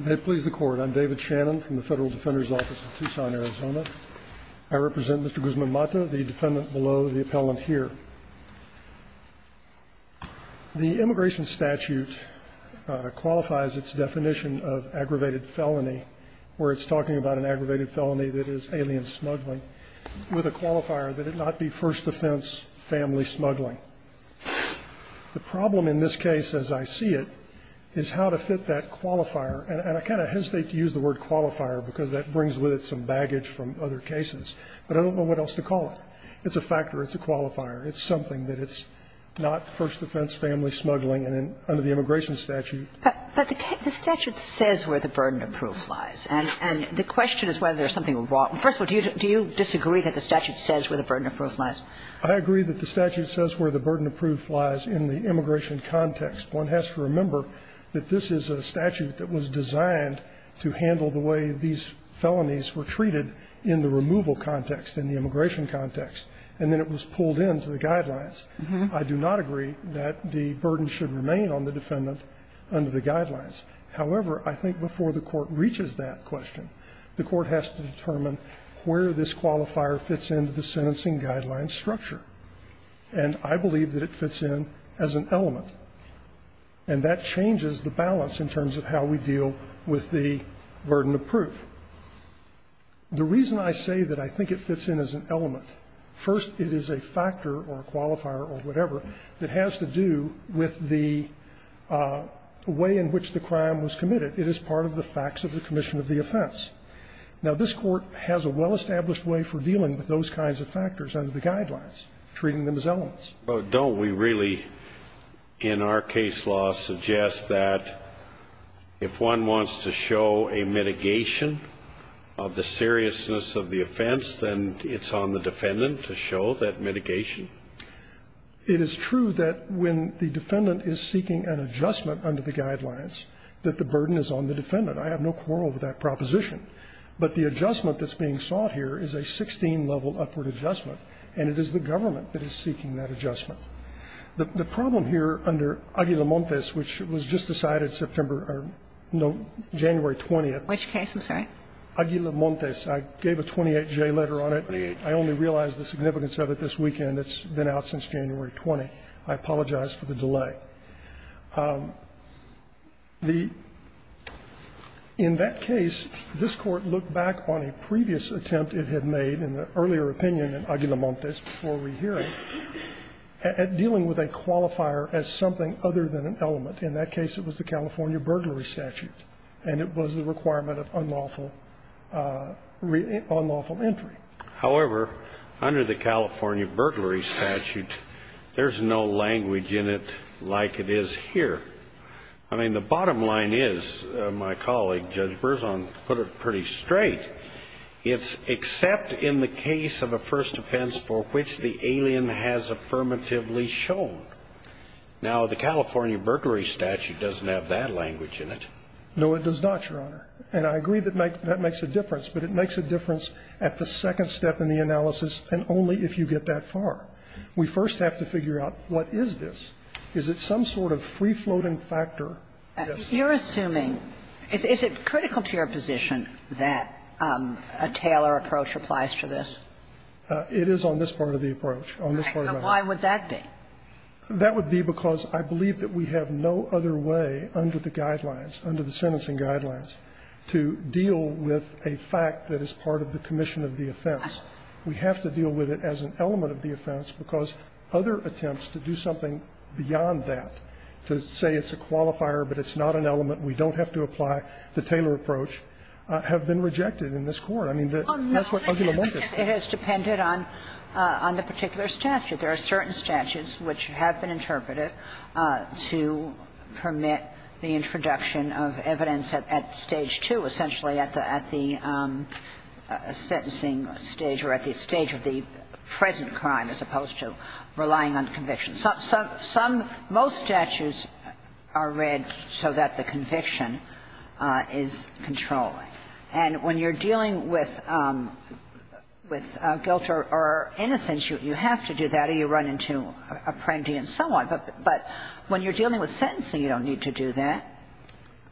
May it please the Court, I'm David Shannon from the Federal Defender's Office of Tucson, Arizona. I represent Mr. Guzman-Mata, the defendant below the appellant here. The immigration statute qualifies its definition of aggravated felony, where it's talking about an aggravated felony that is alien smuggling, with a qualifier that it not be first offense family smuggling. The problem in this case, as I see it, is how to fit that qualifier. And I kind of hesitate to use the word qualifier because that brings with it some baggage from other cases, but I don't know what else to call it. It's a factor, it's a qualifier, it's something that it's not first offense family smuggling under the immigration statute. But the statute says where the burden of proof lies, and the question is whether there's something wrong. First of all, do you disagree that the statute says where the burden of proof lies? Guzman-Mata, Jr.: I agree that the statute says where the burden of proof lies in the immigration context. One has to remember that this is a statute that was designed to handle the way these felonies were treated in the removal context, in the immigration context, and then it was pulled into the guidelines. I do not agree that the burden should remain on the defendant under the guidelines. However, I think before the Court reaches that question, the Court has to determine where this qualifier fits into the sentencing guidelines structure. And I believe that it fits in as an element. And that changes the balance in terms of how we deal with the burden of proof. The reason I say that I think it fits in as an element, first, it is a factor or a qualifier or whatever that has to do with the way in which the crime was committed. It is part of the facts of the commission of the offense. Now, this Court has a well-established way for dealing with those kinds of factors under the guidelines, treating them as elements. Scalia. But don't we really, in our case law, suggest that if one wants to show a mitigation of the seriousness of the offense, then it's on the defendant to show that mitigation? Guzman-Mata, Jr.: It is true that when the defendant is seeking an adjustment under the guidelines, that the burden is on the defendant. I have no quarrel with that proposition. But the adjustment that's being sought here is a 16-level upward adjustment, and it is the government that is seeking that adjustment. The problem here under Aguila-Montes, which was just decided September or, no, January 20th. Kagan. Which case, I'm sorry? Aguila-Montes. I gave a 28-J letter on it. I only realized the significance of it this weekend. It's been out since January 20th. I apologize for the delay. But the – in that case, this Court looked back on a previous attempt it had made in the earlier opinion in Aguila-Montes before rehearing at dealing with a qualifier as something other than an element. In that case, it was the California burglary statute, and it was the requirement of unlawful entry. However, under the California burglary statute, there's no language in it like it is here. I mean, the bottom line is, my colleague Judge Berzon put it pretty straight, it's except in the case of a first offense for which the alien has affirmatively shown. Now, the California burglary statute doesn't have that language in it. No, it does not, Your Honor. And I agree that makes – that makes a difference, but it makes a difference at the second step in the analysis and only if you get that far. We first have to figure out what is this. Is it some sort of free-floating factor? Yes. Kagan. You're assuming – is it critical to your position that a Taylor approach applies to this? It is on this part of the approach. On this part of the approach. Why would that be? That would be because I believe that we have no other way under the guidelines, under the sentencing guidelines, to deal with a fact that is part of the commission of the offense. We have to deal with it as an element of the offense because other attempts to do something beyond that, to say it's a qualifier but it's not an element, we don't have to apply the Taylor approach, have been rejected in this Court. I mean, that's what uglimontous. It has depended on the particular statute. There are certain statutes which have been interpreted to permit the introduction of evidence at Stage 2, essentially at the sentencing stage or at the stage of the present crime as opposed to relying on conviction. Some – most statutes are read so that the conviction is controlling. And when you're dealing with guilt or innocence, you have to do that or you run into apprendi and so on. But when you're dealing with sentencing, you don't need to do that.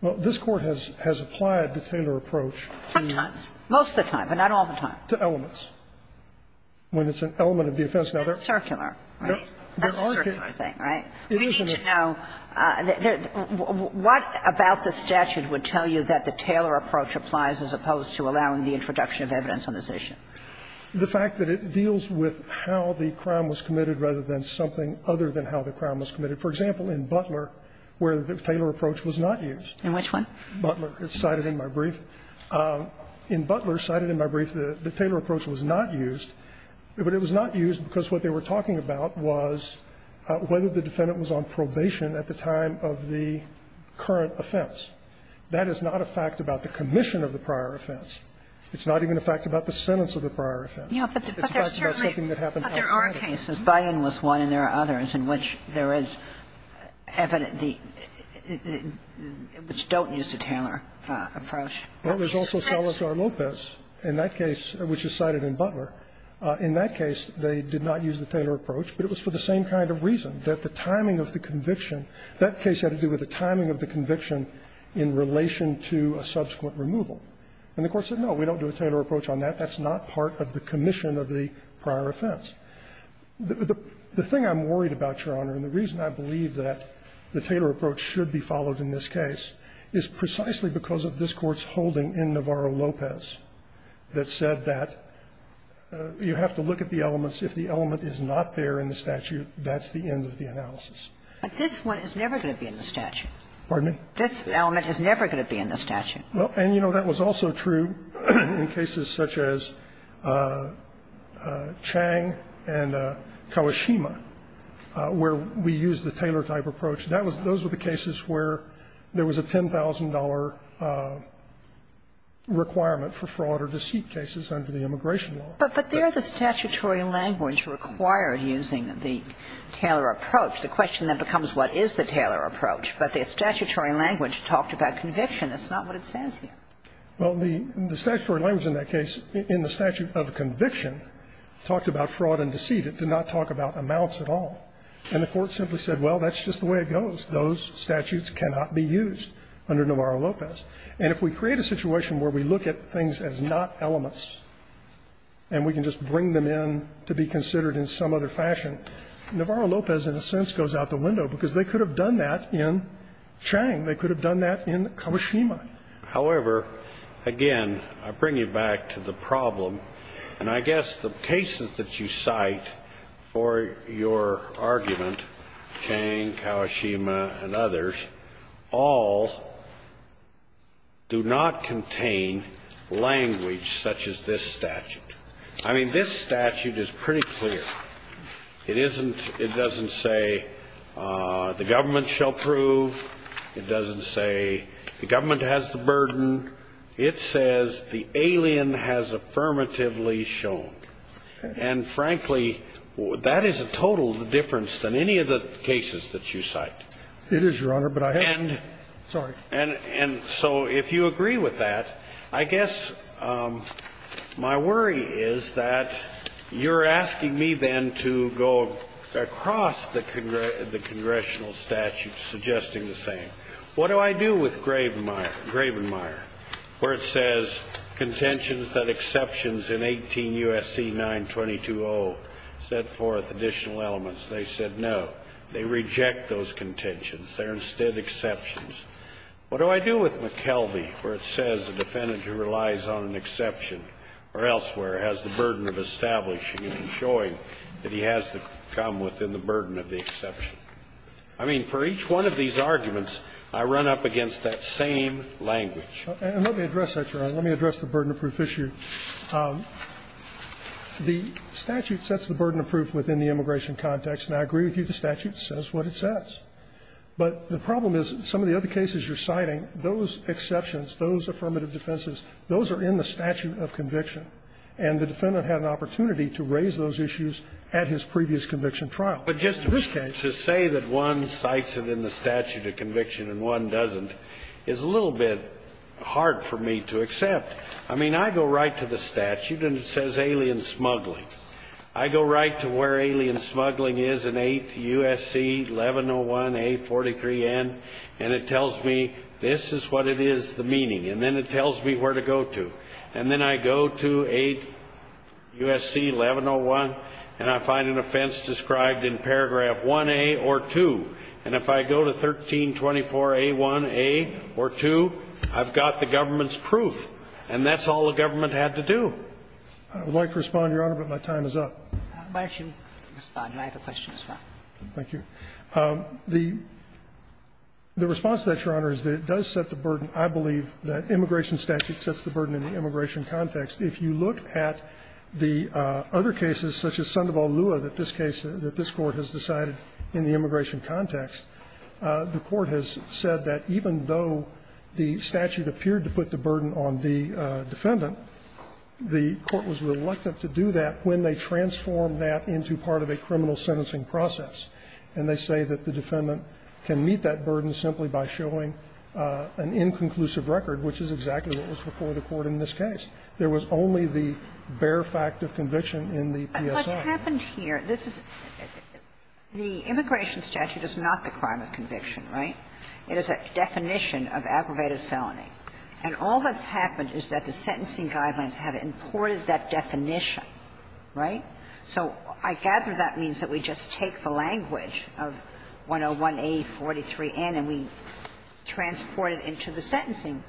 Well, this Court has applied the Taylor approach sometimes. Most of the time, but not all the time. To elements. When it's an element of the offense. Circular, right? That's a circular thing, right? We need to know, what about the statute would tell you that the Taylor approach applies as opposed to allowing the introduction of evidence on this issue? The fact that it deals with how the crime was committed rather than something other than how the crime was committed. For example, in Butler, where the Taylor approach was not used. In which one? Butler. It's cited in my brief. In Butler, cited in my brief, the Taylor approach was not used. But it was not used because what they were talking about was whether the defendant was on probation at the time of the current offense. That is not a fact about the commission of the prior offense. It's not even a fact about the sentence of the prior offense. It's a fact about something that happened outside of it. But there are cases, Bayen was one, and there are others, in which there is evidence which don't use the Taylor approach. But there's also Salazar-Lopez in that case, which is cited in Butler. In that case, they did not use the Taylor approach, but it was for the same kind of reason, that the timing of the conviction, that case had to do with the timing of the conviction in relation to a subsequent removal. And the Court said, no, we don't do a Taylor approach on that. That's not part of the commission of the prior offense. The thing I'm worried about, Your Honor, and the reason I believe that the Taylor approach should be followed in this case is precisely because of this Court's decision in Navarro-Lopez that said that you have to look at the elements. If the element is not there in the statute, that's the end of the analysis. But this one is never going to be in the statute. Pardon me? This element is never going to be in the statute. Well, and, you know, that was also true in cases such as Chang and Kawashima, where we used the Taylor-type approach. Those were the cases where there was a $10,000 requirement for fraud or deceit cases under the immigration law. But they're the statutory language required using the Taylor approach. The question then becomes what is the Taylor approach? But the statutory language talked about conviction. That's not what it says here. Well, the statutory language in that case, in the statute of conviction, talked about fraud and deceit. It did not talk about amounts at all. And the Court simply said, well, that's just the way it goes. Those statutes cannot be used under Navarro-Lopez. And if we create a situation where we look at things as not elements and we can just bring them in to be considered in some other fashion, Navarro-Lopez, in a sense, goes out the window, because they could have done that in Chang. They could have done that in Kawashima. However, again, I bring you back to the problem. And I guess the cases that you cite for your argument, Chang, Kawashima, and others, all do not contain language such as this statute. I mean, this statute is pretty clear. It isn't – it doesn't say the government shall prove. It says the alien has affirmatively shown. And, frankly, that is a total difference than any of the cases that you cite. It is, Your Honor, but I have to – sorry. And so if you agree with that, I guess my worry is that you're asking me then to go across the congressional statute suggesting the same. What do I do with Gravenmire, where it says, Contentions that exceptions in 18 U.S.C. 922.0 set forth additional elements? They said no. They reject those contentions. They're instead exceptions. What do I do with McKelvey, where it says the defendant who relies on an exception or elsewhere has the burden of establishing and showing that he has to come within the burden of the exception? I mean, for each one of these arguments, I run up against that same language. And let me address that, Your Honor. Let me address the burden of proof issue. The statute sets the burden of proof within the immigration context, and I agree with you the statute says what it says. But the problem is some of the other cases you're citing, those exceptions, those affirmative defenses, those are in the statute of conviction. And the defendant had an opportunity to raise those issues at his previous conviction trial. But just to say that one cites it in the statute of conviction and one doesn't is a little bit hard for me to accept. I mean, I go right to the statute, and it says alien smuggling. I go right to where alien smuggling is in 8 U.S.C. 1101A43N, and it tells me this is what it is, the meaning, and then it tells me where to go to. And then I go to 8 U.S.C. 1101, and I find an offense described in paragraph 1A or 2. And if I go to 1324A1A or 2, I've got the government's proof, and that's all the government had to do. I would like to respond, Your Honor, but my time is up. Why don't you respond? I have a question as well. Thank you. The response to that, Your Honor, is that it does set the burden, I believe, that the immigration context, if you look at the other cases such as Sandoval-Lewa that this case, that this Court has decided in the immigration context, the Court has said that even though the statute appeared to put the burden on the defendant, the Court was reluctant to do that when they transformed that into part of a criminal sentencing process. And they say that the defendant can meet that burden simply by showing an inconclusive record, which is exactly what was before the Court in this case. There was only the bare fact of conviction in the PSI. And what's happened here, this is the immigration statute is not the crime of conviction, right? It is a definition of aggravated felony. And all that's happened is that the sentencing guidelines have imported that definition, right? So I gather that means that we just take the language of 101A43N and we transport it into the sentencing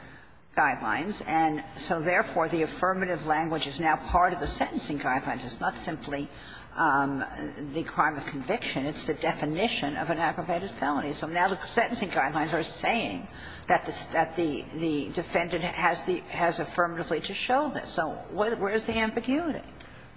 guidelines, and so, therefore, the affirmative language is now part of the sentencing guidelines. It's not simply the crime of conviction. It's the definition of an aggravated felony. So now the sentencing guidelines are saying that the defendant has affirmatively to show this. So where is the ambiguity?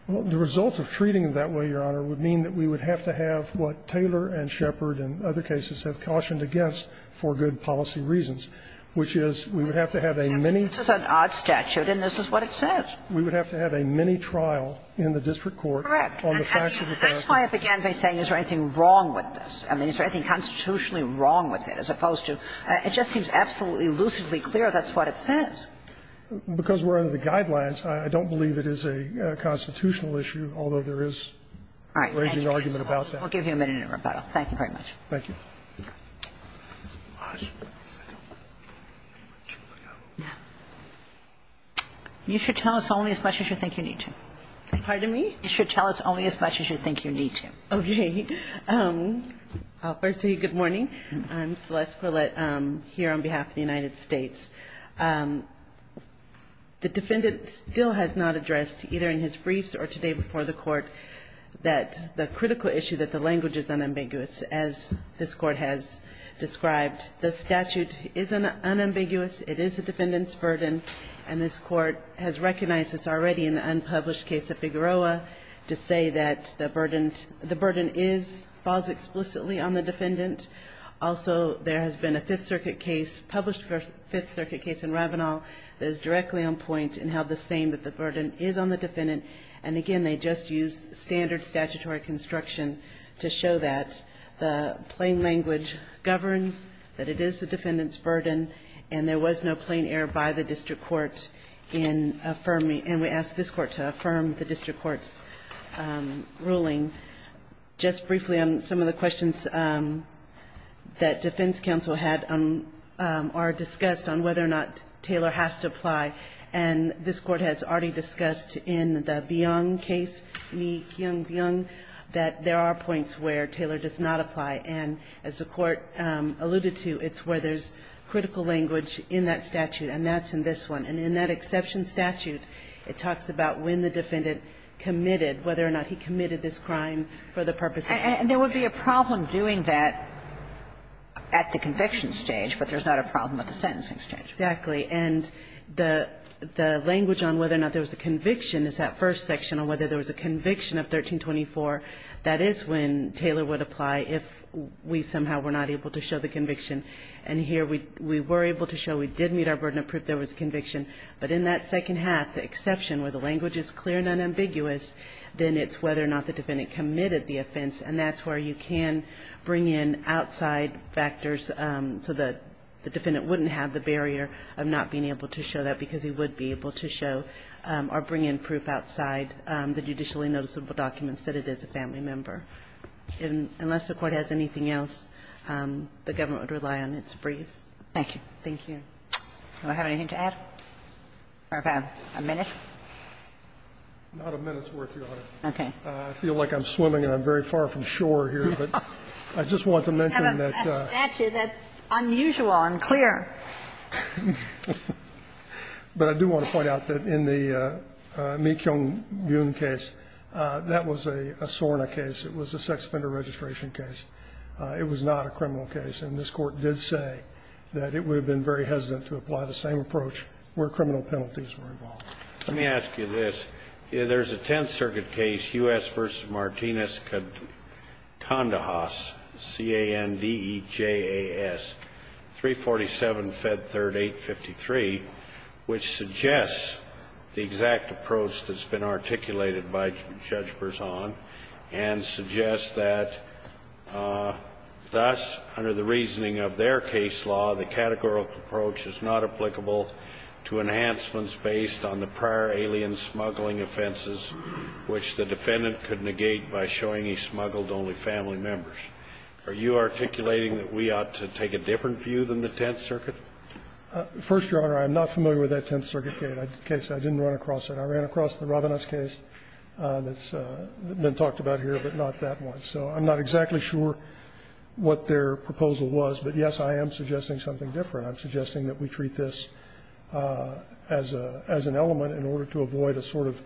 The result of treating it that way, Your Honor, would mean that we would have to have what Taylor and Shepard and other cases have cautioned against for good policy reasons, which is we would have to have a mini- This is an odd statute, and this is what it says. We would have to have a mini-trial in the district court on the facts of the fact- Correct. And that's why I began by saying is there anything wrong with this? I mean, is there anything constitutionally wrong with it, as opposed to it just seems absolutely, lucidly clear that's what it says. Because we're under the guidelines, I don't believe it is a constitutional issue, although there is a raging argument about that. Thank you, Your Honor. We'll give you a minute in rebuttal. Thank you very much. Thank you. You should tell us only as much as you think you need to. Pardon me? You should tell us only as much as you think you need to. Okay. I'll first tell you good morning. I'm Celeste Gwilett here on behalf of the United States. The defendant still has not addressed, either in his briefs or today before the Court, that the critical issue that the language is unambiguous, as this Court has described. The statute is unambiguous. It is the defendant's burden. And this Court has recognized this already in the unpublished case of Figueroa Also, there has been a Fifth Circuit case, published Fifth Circuit case in Ravenal, that is directly on point in how the same that the burden is on the defendant. And again, they just used standard statutory construction to show that the plain language governs, that it is the defendant's burden, and there was no plain error by the district court in affirming. And we ask this Court to affirm the district court's ruling. Just briefly, some of the questions that defense counsel had are discussed on whether or not Taylor has to apply. And this Court has already discussed in the Byung case, Mi Kyung Byung, that there are points where Taylor does not apply. And as the Court alluded to, it's where there's critical language in that statute. And that's in this one. And in that exception statute, it talks about when the defendant committed, whether or not he committed this crime for the purpose of conviction. And there would be a problem doing that at the conviction stage, but there's not a problem at the sentencing stage. Exactly. And the language on whether or not there was a conviction is that first section on whether there was a conviction of 1324. That is when Taylor would apply if we somehow were not able to show the conviction. And here we were able to show we did meet our burden of proof there was a conviction. But in that second half, the exception where the language is clear and unambiguous, then it's whether or not the defendant committed the offense. And that's where you can bring in outside factors so that the defendant wouldn't have the barrier of not being able to show that, because he would be able to show or bring in proof outside the judicially noticeable documents that it is a family member. Unless the Court has anything else, the government would rely on its briefs. Thank you. Thank you. Do I have anything to add, or about a minute? Not a minute's worth, Your Honor. Okay. I feel like I'm swimming and I'm very far from shore here, but I just want to mention that the ---- Actually, that's unusual and clear. But I do want to point out that in the Meekyong-Byun case, that was a SORNA case. It was a sex offender registration case. It was not a criminal case. And this Court did say that it would have been very hesitant to apply the same approach where criminal penalties were involved. Let me ask you this. There's a Tenth Circuit case, U.S. v. Martinez-Condajas, C-A-N-D-E-J-A-S, 347 Fed 3rd 853, which suggests the exact approach that's been articulated by Judge Berzon and suggests that, thus, under the reasoning of their case law, the categorical approach is not applicable to enhancements based on the prior alien smuggling offenses which the defendant could negate by showing he smuggled only family members. Are you articulating that we ought to take a different view than the Tenth Circuit? First, Your Honor, I'm not familiar with that Tenth Circuit case. I didn't run across it. I ran across the Ravines case that's been talked about here, but not that one. So I'm not exactly sure what their proposal was. But, yes, I am suggesting something different. I'm suggesting that we treat this as a as an element in order to avoid a sort of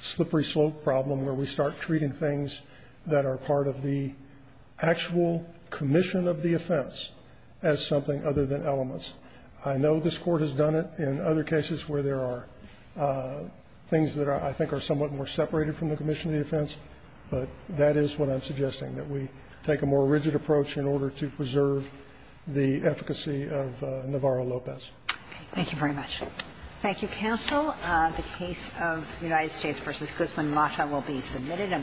slippery slope problem where we start treating things that are part of the actual commission of the offense as something other than elements. I know this Court has done it in other cases where there are things that I think are somewhat more separated from the commission of the offense, but that is what I'm suggesting, that we take a more rigid approach in order to preserve the efficacy of Navarro-Lopez. Thank you very much. Thank you, counsel. The case of United States v. Guzman-Mata will be submitted.